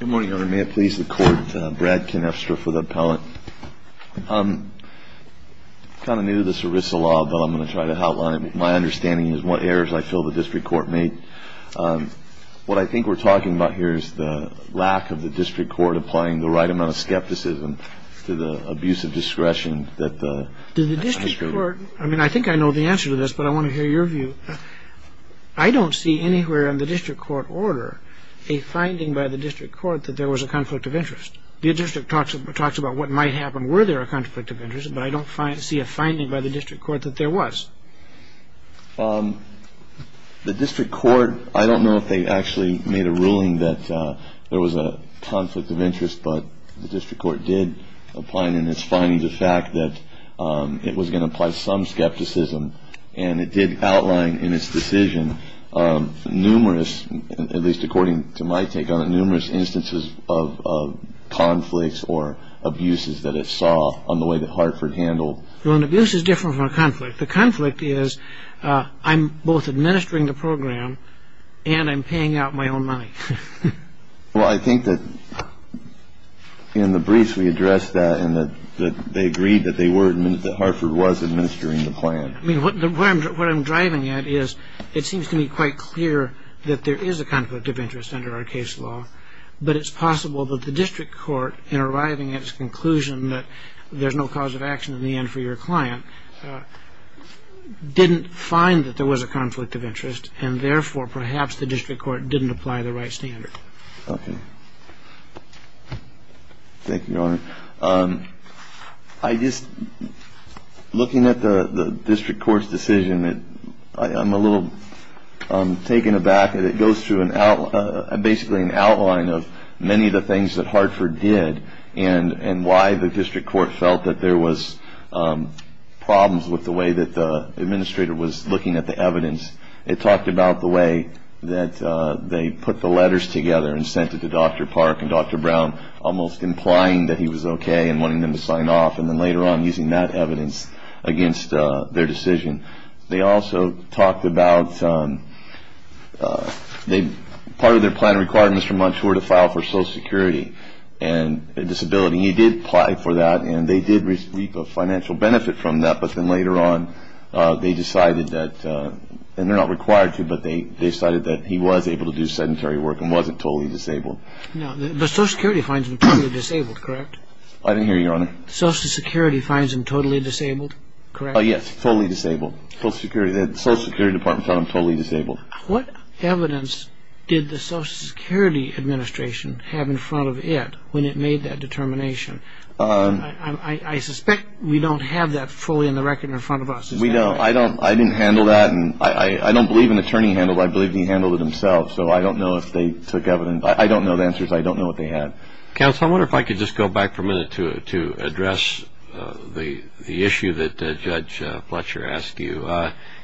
Good morning, Your Honor. May it please the Court, Brad Knafstra for the appellate. I'm kind of new to this ERISA law, but I'm going to try to outline it. My understanding is what errors I feel the district court made. What I think we're talking about here is the lack of the district court applying the right amount of skepticism to the abuse of discretion that the… Did the district court – I mean, I think I know the answer to this, but I want to hear your view. I don't see anywhere in the district court order a finding by the district court that there was a conflict of interest. The district talks about what might happen were there a conflict of interest, but I don't see a finding by the district court that there was. The district court – I don't know if they actually made a ruling that there was a conflict of interest, but the district court did apply it in its finding the fact that it was going to apply some skepticism, and it did outline in its decision numerous – at least according to my take on it – numerous instances of conflicts or abuses that it saw on the way that Hartford handled… Well, an abuse is different from a conflict. The conflict is I'm both administering the program and I'm paying out my own money. Well, I think that in the briefs we addressed that and that they agreed that Hartford was administering the plan. I mean, what I'm driving at is it seems to me quite clear that there is a conflict of interest under our case law, but it's possible that the district court in arriving at its conclusion that there's no cause of action in the end for your client didn't find that there was a conflict of interest and therefore perhaps the district court didn't apply the right standard. Okay. Thank you, Your Honor. I just – looking at the district court's decision, I'm a little taken aback. It goes through basically an outline of many of the things that Hartford did and why the district court felt that there was problems with the way that the administrator was looking at the evidence. It talked about the way that they put the letters together and sent it to Dr. Park and Dr. Brown, almost implying that he was okay and wanting them to sign off and then later on using that evidence against their decision. They also talked about part of their plan required Mr. Munch to file for Social Security and a disability. He did apply for that and they did reap a financial benefit from that, but then later on they decided that – and they're not required to, but they decided that he was able to do sedentary work and wasn't totally disabled. No, but Social Security finds him totally disabled, correct? I didn't hear you, Your Honor. Social Security finds him totally disabled, correct? Yes, totally disabled. Social Security Department found him totally disabled. What evidence did the Social Security Administration have in front of it when it made that determination? I suspect we don't have that fully in the record in front of us. I didn't handle that. I don't believe an attorney handled it. I believe he handled it himself, so I don't know if they took evidence. I don't know the answers. I don't know what they had. Counsel, I wonder if I could just go back for a minute to address the issue that Judge Fletcher asked you.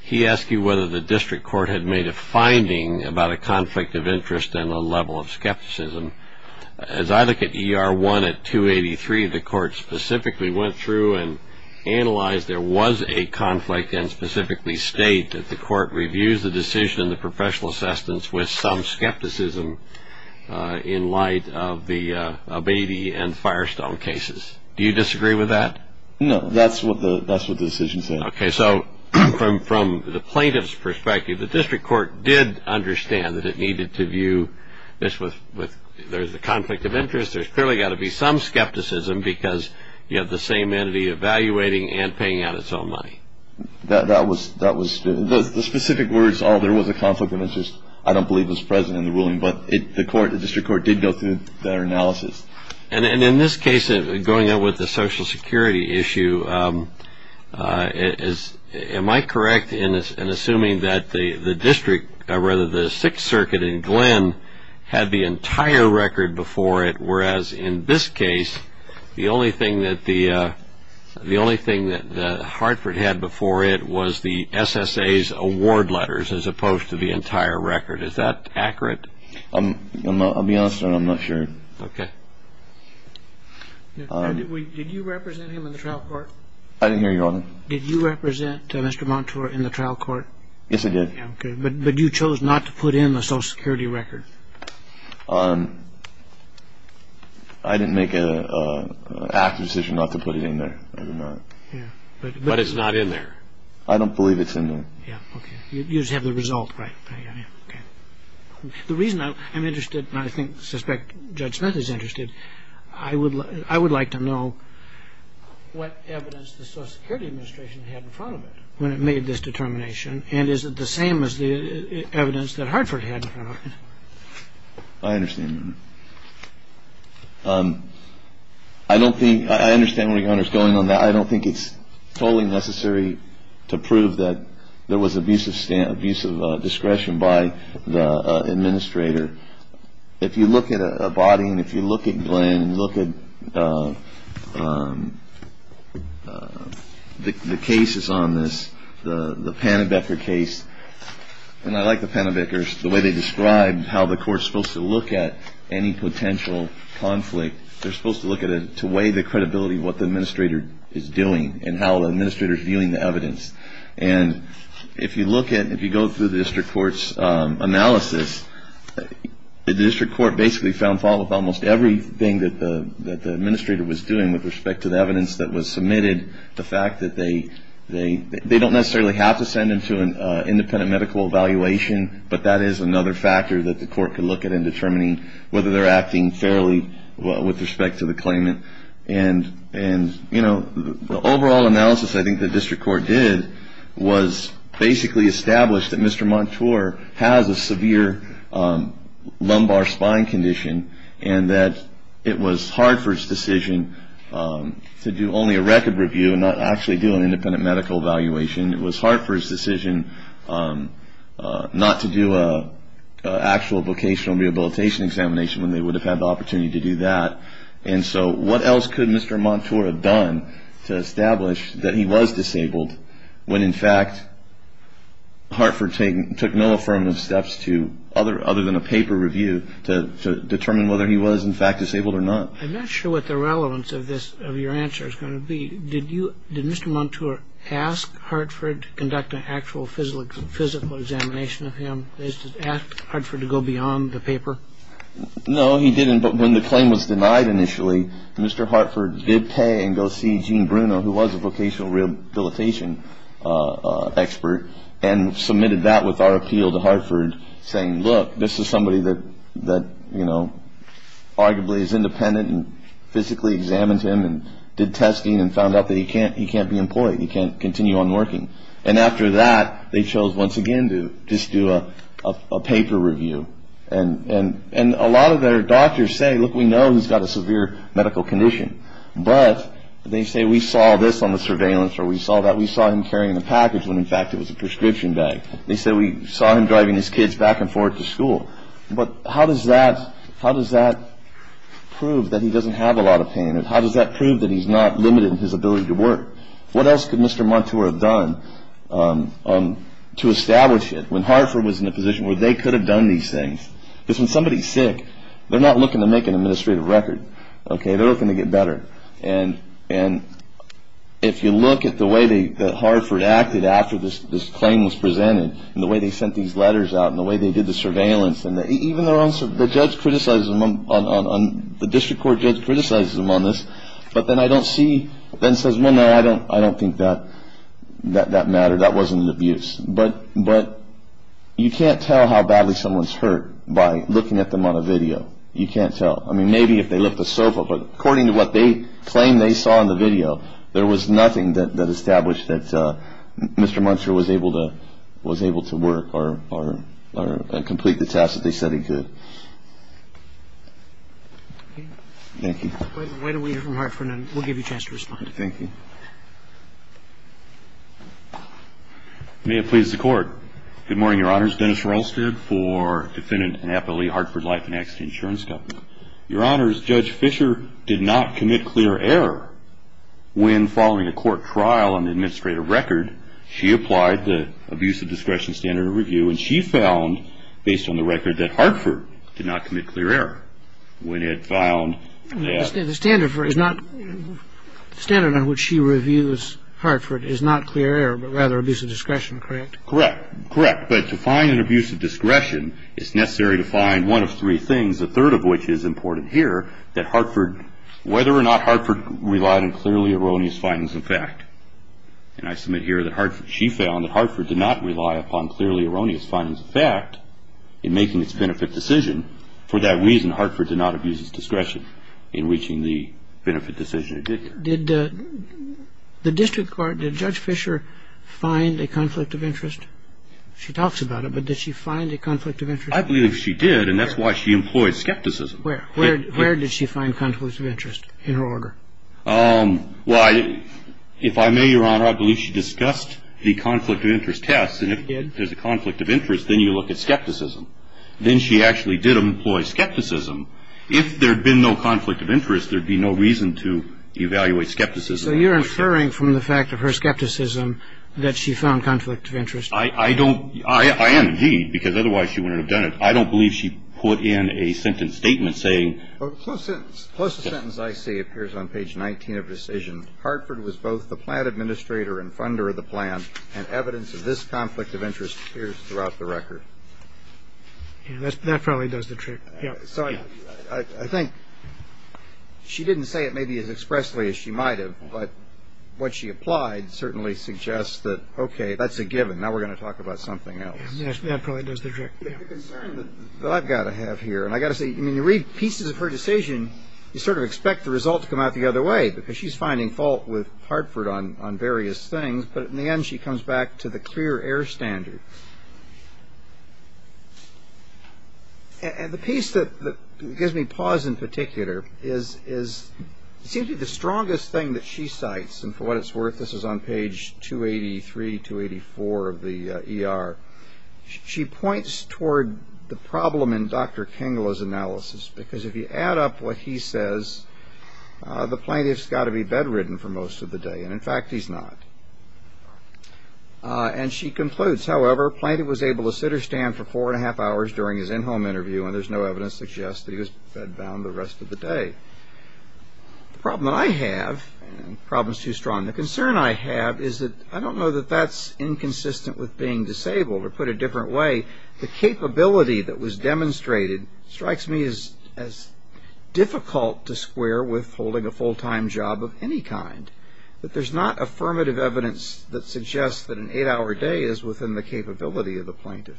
He asked you whether the district court had made a finding about a conflict of interest and a level of skepticism. As I look at ER 1 at 283, the court specifically went through and analyzed there was a conflict and specifically state that the court reviews the decision and the professional assistance with some skepticism in light of the Abeyte and Firestone cases. Do you disagree with that? No, that's what the decision said. Okay, so from the plaintiff's perspective, the district court did understand that it needed to view this with there's a conflict of interest. There's clearly got to be some skepticism because you have the same entity evaluating and paying out its own money. The specific words, oh, there was a conflict of interest, I don't believe was present in the ruling, but the district court did go through their analysis. And in this case, going out with the Social Security issue, am I correct in assuming that the district, or rather the Sixth Circuit in Glenn had the entire record before it, whereas in this case, the only thing that Hartford had before it was the SSA's award letters as opposed to the entire record. Is that accurate? I'll be honest, I'm not sure. Okay. Did you represent him in the trial court? I didn't hear you, Your Honor. Did you represent Mr. Montour in the trial court? Yes, I did. Okay, but you chose not to put in the Social Security record. I didn't make an active decision not to put it in there. I did not. Yeah, but it's not in there. I don't believe it's in there. Yeah, okay. You just have the result, right. The reason I'm interested, and I suspect Judge Smith is interested, I would like to know what evidence the Social Security Administration had in front of it when it made this determination, and is it the same as the evidence that Hartford had in front of it? I understand, Your Honor. I understand what you're going on. I don't think it's totally necessary to prove that there was abusive discretion by the administrator. If you look at a body, and if you look at Glenn, look at the cases on this, the Panabecker case, and I like the Panabeckers, the way they describe how the court is supposed to look at any potential conflict. They're supposed to look at it to weigh the credibility of what the administrator is doing and how the administrator is viewing the evidence. And if you look at, if you go through the district court's analysis, the district court basically found fault with almost everything that the administrator was doing with respect to the evidence that was submitted. The fact that they don't necessarily have to send them to an independent medical evaluation, but that is another factor that the court could look at in determining whether they're acting fairly with respect to the claimant. And, you know, the overall analysis I think the district court did was basically establish that Mr. Montour has a severe lumbar spine condition and that it was hard for his decision to do only a record review and not actually do an independent medical evaluation. It was hard for his decision not to do an actual vocational rehabilitation examination when they would have had the opportunity to do that. And so what else could Mr. Montour have done to establish that he was disabled when in fact Hartford took no affirmative steps other than a paper review to determine whether he was in fact disabled or not. I'm not sure what the relevance of your answer is going to be. Did Mr. Montour ask Hartford to conduct an actual physical examination of him? Did he ask Hartford to go beyond the paper? No, he didn't. But when the claim was denied initially, Mr. Hartford did pay and go see Gene Bruno, who was a vocational rehabilitation expert, and submitted that with our appeal to Hartford saying, look, this is somebody that, you know, arguably is independent and physically examined him and did testing and found out that he can't be employed, he can't continue on working. And after that, they chose once again to just do a paper review and a lot of their doctors say, look, we know he's got a severe medical condition, but they say we saw this on the surveillance or we saw that we saw him carrying a package when in fact it was a prescription bag. They say we saw him driving his kids back and forth to school. But how does that prove that he doesn't have a lot of pain? How does that prove that he's not limited in his ability to work? What else could Mr. Montour have done to establish it when Hartford was in a position where they could have done these things? Because when somebody's sick, they're not looking to make an administrative record, okay? They're looking to get better. And if you look at the way that Hartford acted after this claim was presented and the way they sent these letters out and the way they did the surveillance, and even the judge criticizes them, the district court judge criticizes them on this, but then I don't see, then says, well, no, I don't think that mattered, that wasn't an abuse. But you can't tell how badly someone's hurt by looking at them on a video. You can't tell. I mean, maybe if they lift a sofa, but according to what they claim they saw in the video, there was nothing that established that Mr. Montour was able to work or complete the task that they said he could. Thank you. Why don't we hear from Hartford and we'll give you a chance to respond. Thank you. May it please the Court. Good morning, Your Honors. Dennis Rolstad for defendant and appellee Hartford Life and Accident Insurance Company. Your Honors, Judge Fischer did not commit clear error when following a court trial on the administrative record, she applied the abuse of discretion standard of review, and she found, based on the record, that Hartford did not commit clear error when it found that The standard on which she reviews Hartford is not clear error, but rather abuse of discretion, correct? Correct. But to find an abuse of discretion, it's necessary to find one of three things, a third of which is important here, that whether or not Hartford relied on clearly erroneous findings of fact. And I submit here that she found that Hartford did not rely upon clearly erroneous findings of fact in making its benefit decision. And for that reason, Hartford did not abuse its discretion in reaching the benefit decision it did. Did the district court, did Judge Fischer find a conflict of interest? She talks about it, but did she find a conflict of interest? I believe she did, and that's why she employed skepticism. Where? Where did she find conflicts of interest in her order? Well, if I may, Your Honor, I believe she discussed the conflict of interest test, and if there's a conflict of interest, then you look at skepticism. Then she actually did employ skepticism. If there had been no conflict of interest, there would be no reason to evaluate skepticism. So you're inferring from the fact of her skepticism that she found conflict of interest? I don't – I am, indeed, because otherwise she wouldn't have done it. I don't believe she put in a sentence statement saying – The closest sentence I see appears on page 19 of the decision. Hartford was both the plan administrator and funder of the plan, and evidence of this conflict of interest appears throughout the record. That probably does the trick. I think she didn't say it maybe as expressly as she might have, but what she applied certainly suggests that, okay, that's a given. Now we're going to talk about something else. That probably does the trick. The concern that I've got to have here, and I've got to say, when you read pieces of her decision, you sort of expect the result to come out the other way because she's finding fault with Hartford on various things, but in the end she comes back to the clear air standard. And the piece that gives me pause in particular is – it seems to be the strongest thing that she cites, and for what it's worth, this is on page 283, 284 of the ER. She points toward the problem in Dr. Kengella's analysis because if you add up what he says, the plaintiff's got to be bedridden for most of the day, and in fact he's not. And she concludes, however, plaintiff was able to sit or stand for four and a half hours during his in-home interview and there's no evidence to suggest that he was bedbound the rest of the day. The problem that I have, and the problem's too strong, the concern I have is that I don't know that that's inconsistent with being disabled, or put a different way, the capability that was demonstrated strikes me as difficult to square with holding a full-time job of any kind, that there's not affirmative evidence that suggests that an eight-hour day is within the capability of the plaintiff.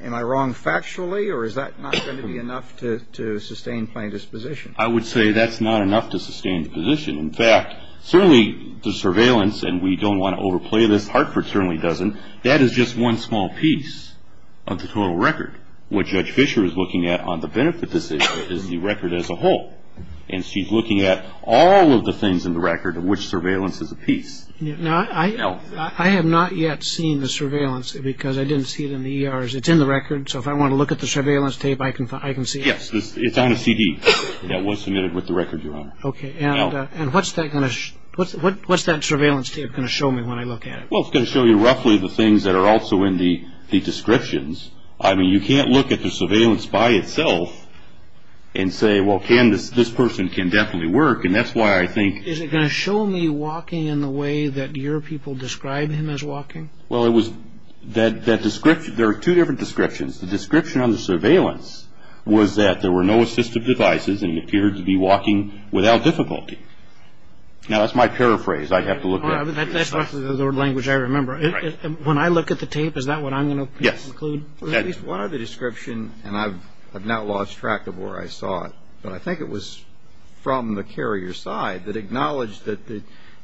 Am I wrong factually, or is that not going to be enough to sustain plaintiff's position? I would say that's not enough to sustain the position. In fact, certainly the surveillance, and we don't want to overplay this, Hartford certainly doesn't, that is just one small piece of the total record. What Judge Fischer is looking at on the benefit decision is the record as a whole, and she's looking at all of the things in the record of which surveillance is a piece. Now, I have not yet seen the surveillance because I didn't see it in the ERs. It's in the record, so if I want to look at the surveillance tape, I can see it. Yes, it's on a CD that was submitted with the record, Your Honor. Okay, and what's that surveillance tape going to show me when I look at it? Well, it's going to show you roughly the things that are also in the descriptions. I mean, you can't look at the surveillance by itself and say, well, this person can definitely work, and that's why I think... Is it going to show me walking in the way that your people describe him as walking? Well, there are two different descriptions. The description on the surveillance was that there were no assistive devices and he appeared to be walking without difficulty. Now, that's my paraphrase. That's the language I remember. When I look at the tape, is that what I'm going to conclude? Yes. Well, at least one other description, and I've now lost track of where I saw it, but I think it was from the carrier side that acknowledged that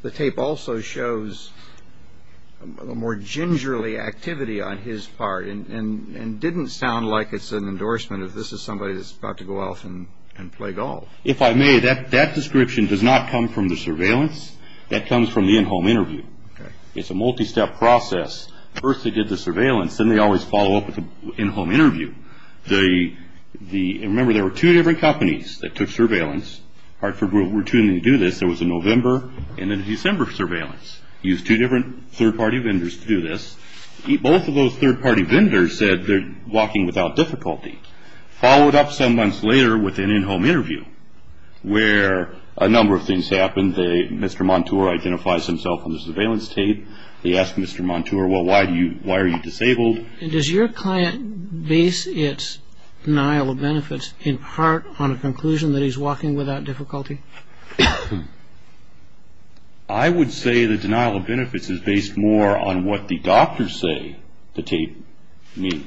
the tape also shows a more gingerly activity on his part and didn't sound like it's an endorsement of this is somebody that's about to go off and play golf. If I may, that description does not come from the surveillance. That comes from the in-home interview. It's a multi-step process. First they did the surveillance. Then they always follow up with an in-home interview. Remember, there were two different companies that took surveillance. Hartford will continue to do this. There was a November and a December surveillance. Used two different third-party vendors to do this. Both of those third-party vendors said they're walking without difficulty. Followed up some months later with an in-home interview where a number of things happened. Mr. Montour identifies himself on the surveillance tape. They asked Mr. Montour, well, why are you disabled? And does your client base its denial of benefits in part on a conclusion that he's walking without difficulty? I would say the denial of benefits is based more on what the doctors say the tape means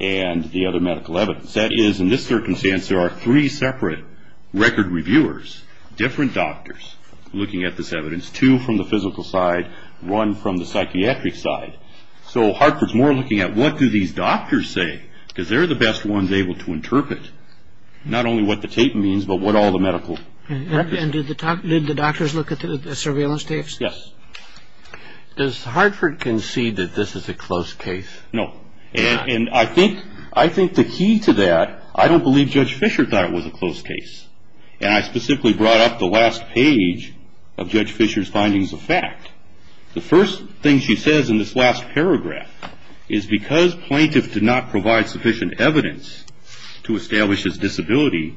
and the other medical evidence. That is, in this circumstance, there are three separate record reviewers, different doctors, looking at this evidence. Two from the physical side. One from the psychiatric side. So Hartford's more looking at what do these doctors say? Because they're the best ones able to interpret not only what the tape means but what all the medical records say. And did the doctors look at the surveillance tapes? Yes. Does Hartford concede that this is a close case? No. And I think the key to that, I don't believe Judge Fisher thought it was a close case. And I specifically brought up the last page of Judge Fisher's findings of fact. The first thing she says in this last paragraph is because plaintiffs did not provide sufficient evidence to establish his disability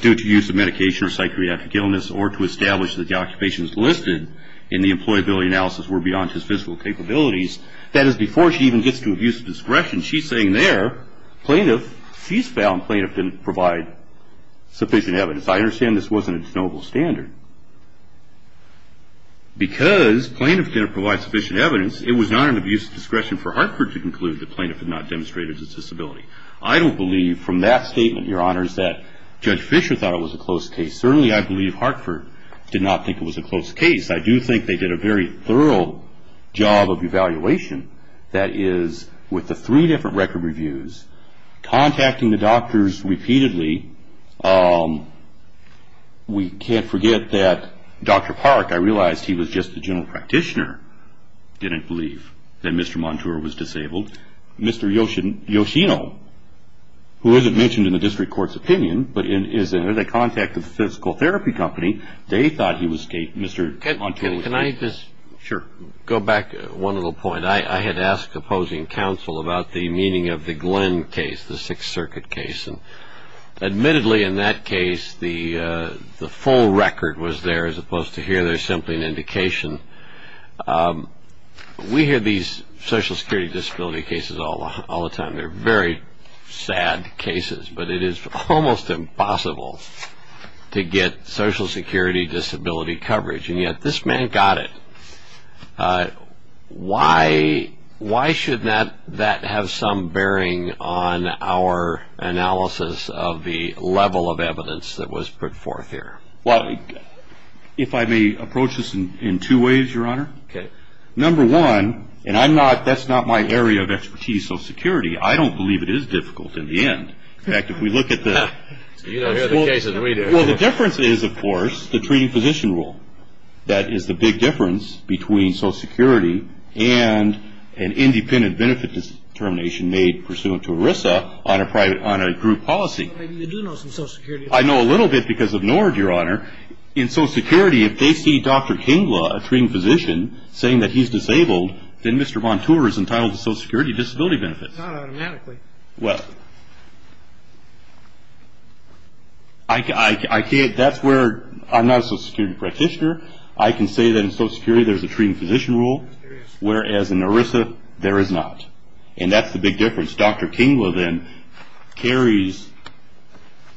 due to use of medication or psychiatric illness or to establish that the occupations listed in the employability analysis were beyond his physical capabilities, that is, before she even gets to abuse of discretion, she's saying there, plaintiff, she's found plaintiff didn't provide sufficient evidence. I understand this wasn't its noble standard. Because plaintiff didn't provide sufficient evidence, it was not an abuse of discretion for Hartford to conclude the plaintiff had not demonstrated his disability. I don't believe from that statement, Your Honors, that Judge Fisher thought it was a close case. Certainly, I believe Hartford did not think it was a close case. I do think they did a very thorough job of evaluation. That is, with the three different record reviews, contacting the doctors repeatedly. We can't forget that Dr. Park, I realized he was just the general practitioner, didn't believe that Mr. Montour was disabled. Mr. Yoshino, who isn't mentioned in the district court's opinion, but is in contact with the physical therapy company, they thought he was Mr. Montour. Can I just go back to one little point? I had asked opposing counsel about the meaning of the Glenn case, the Sixth Circuit case. Admittedly, in that case, the full record was there as opposed to here. There's simply an indication. We hear these social security disability cases all the time. They're very sad cases, but it is almost impossible to get social security disability coverage, and yet this man got it. Why should that have some bearing on our analysis of the level of evidence that was put forth here? Well, if I may approach this in two ways, Your Honor. Number one, and that's not my area of expertise, social security. I don't believe it is difficult in the end. In fact, if we look at the- You don't hear the case as a reader. Well, the difference is, of course, the treating physician rule. That is the big difference between social security and an independent benefit determination made pursuant to ERISA on a group policy. You do know some social security. I know a little bit because of NORD, Your Honor. In social security, if they see Dr. Kinglaw, a treating physician, saying that he's disabled, then Mr. Montour is entitled to social security disability benefits. Not automatically. Well, I can't- That's where- I'm not a social security practitioner. I can say that in social security there's a treating physician rule, whereas in ERISA there is not, and that's the big difference. Dr. Kinglaw then carries-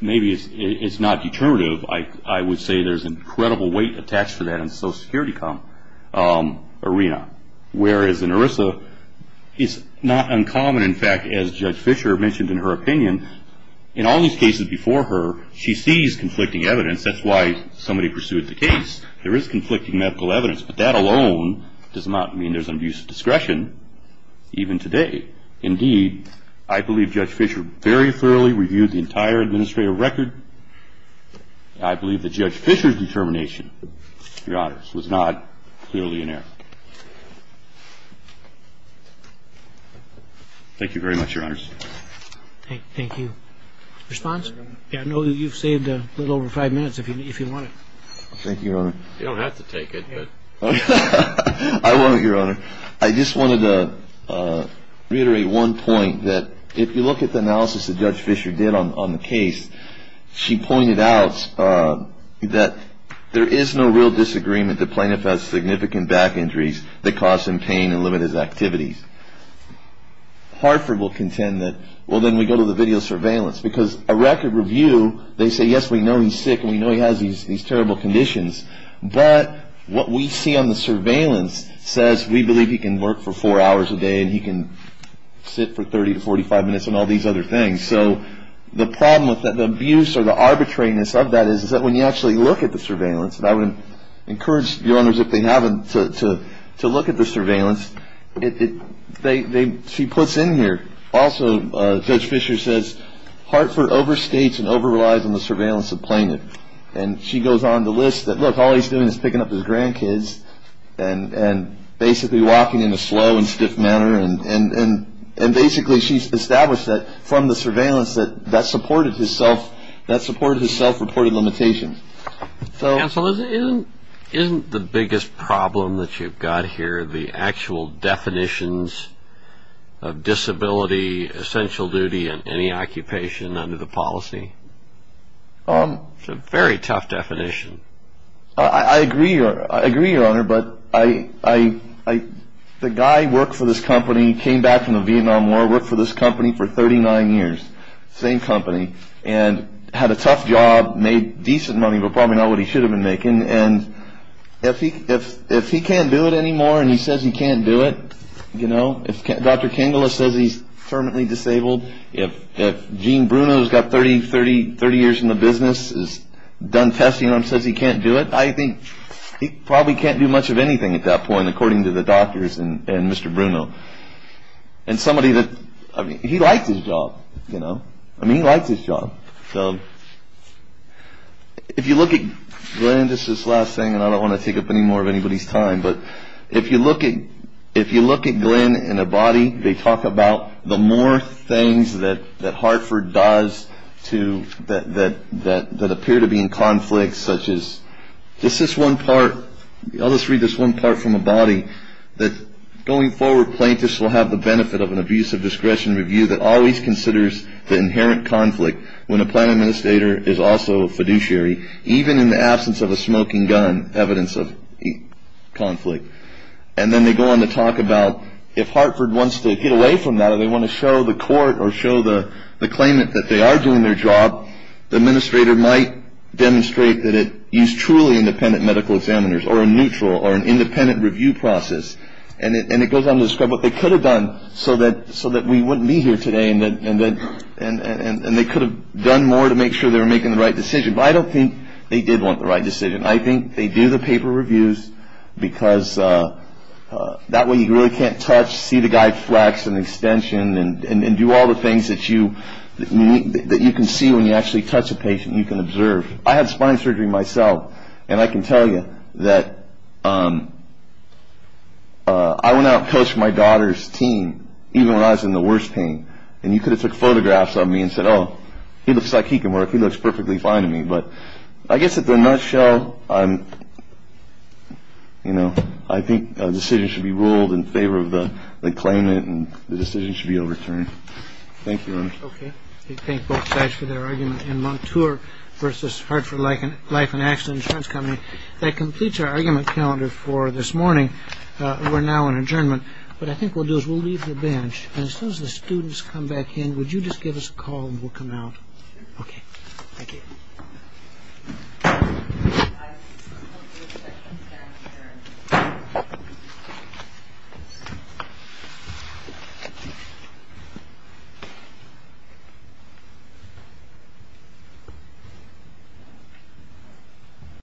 maybe it's not determinative. I would say there's an incredible weight attached to that in the social security arena, whereas in ERISA it's not uncommon. In fact, as Judge Fischer mentioned in her opinion, in all these cases before her, she sees conflicting evidence. That's why somebody pursued the case. There is conflicting medical evidence, but that alone does not mean there's an abuse of discretion, even today. Indeed, I believe Judge Fischer very thoroughly reviewed the entire administrative record. I believe that Judge Fischer's determination, Your Honors, was not clearly in error. Thank you very much, Your Honors. Thank you. Response? I know you've saved a little over five minutes, if you want it. Thank you, Your Honor. You don't have to take it, but- I won't, Your Honor. I just wanted to reiterate one point, that if you look at the analysis that Judge Fischer did on the case, she pointed out that there is no real disagreement that Plaintiff has significant back injuries that cause him pain and limit his activities. Hartford will contend that, well, then we go to the video surveillance, because a record review, they say, yes, we know he's sick and we know he has these terrible conditions, but what we see on the surveillance says we believe he can work for four hours a day and he can sit for 30 to 45 minutes and all these other things. So the problem with that, the abuse or the arbitrariness of that is that when you actually look at the surveillance, and I would encourage Your Honors, if they haven't, to look at the surveillance, she puts in here, also, Judge Fischer says Hartford overstates and over-relies on the surveillance of Plaintiff. And she goes on the list that, look, all he's doing is picking up his grandkids and basically walking in a slow and stiff manner. And basically she's established that from the surveillance that that supported his self-reported limitations. Counsel, isn't the biggest problem that you've got here the actual definitions of disability, essential duty, and any occupation under the policy? It's a very tough definition. I agree, Your Honor, but the guy worked for this company, came back from the Vietnam War, worked for this company for 39 years, same company, and had a tough job, made decent money but probably not what he should have been making. And if he can't do it anymore and he says he can't do it, you know, if Dr. Kingle says he's terminally disabled, if Gene Bruno's got 30 years in the business, is done testing and says he can't do it, I think he probably can't do much of anything at that point, according to the doctors and Mr. Bruno. And somebody that, I mean, he likes his job, you know. I mean, he likes his job. So if you look at Glenn, just this last thing, and I don't want to take up any more of anybody's time, but if you look at Glenn in a body, they talk about the more things that Hartford does that appear to be in conflict, such as, this is one part, I'll just read this one part from a body, that going forward, plaintiffs will have the benefit of an abusive discretion review that always considers the inherent conflict when a plan administrator is also a fiduciary, even in the absence of a smoking gun, evidence of conflict. And then they go on to talk about if Hartford wants to get away from that or they want to show the court or show the claimant that they are doing their job, the administrator might demonstrate that it used truly independent medical examiners or a neutral or an independent review process. And it goes on to describe what they could have done so that we wouldn't be here today and they could have done more to make sure they were making the right decision. But I don't think they did want the right decision. I think they do the paper reviews because that way you really can't touch, see the guy flex and extension and do all the things that you can see when you actually touch a patient you can observe. I had spine surgery myself, and I can tell you that I went out and coached my daughter's team even when I was in the worst pain. And you could have took photographs of me and said, oh, he looks like he can work. He looks perfectly fine to me. But I guess in a nutshell, I think a decision should be ruled in favor of the claimant and the decision should be overturned. Thank you. Okay. Thank both sides for their argument. And Montour versus Hartford Life and Accident Insurance Company, that completes our argument calendar for this morning. We're now in adjournment. What I think we'll do is we'll leave the bench. And as soon as the students come back in, would you just give us a call and we'll come out. Okay. Thank you.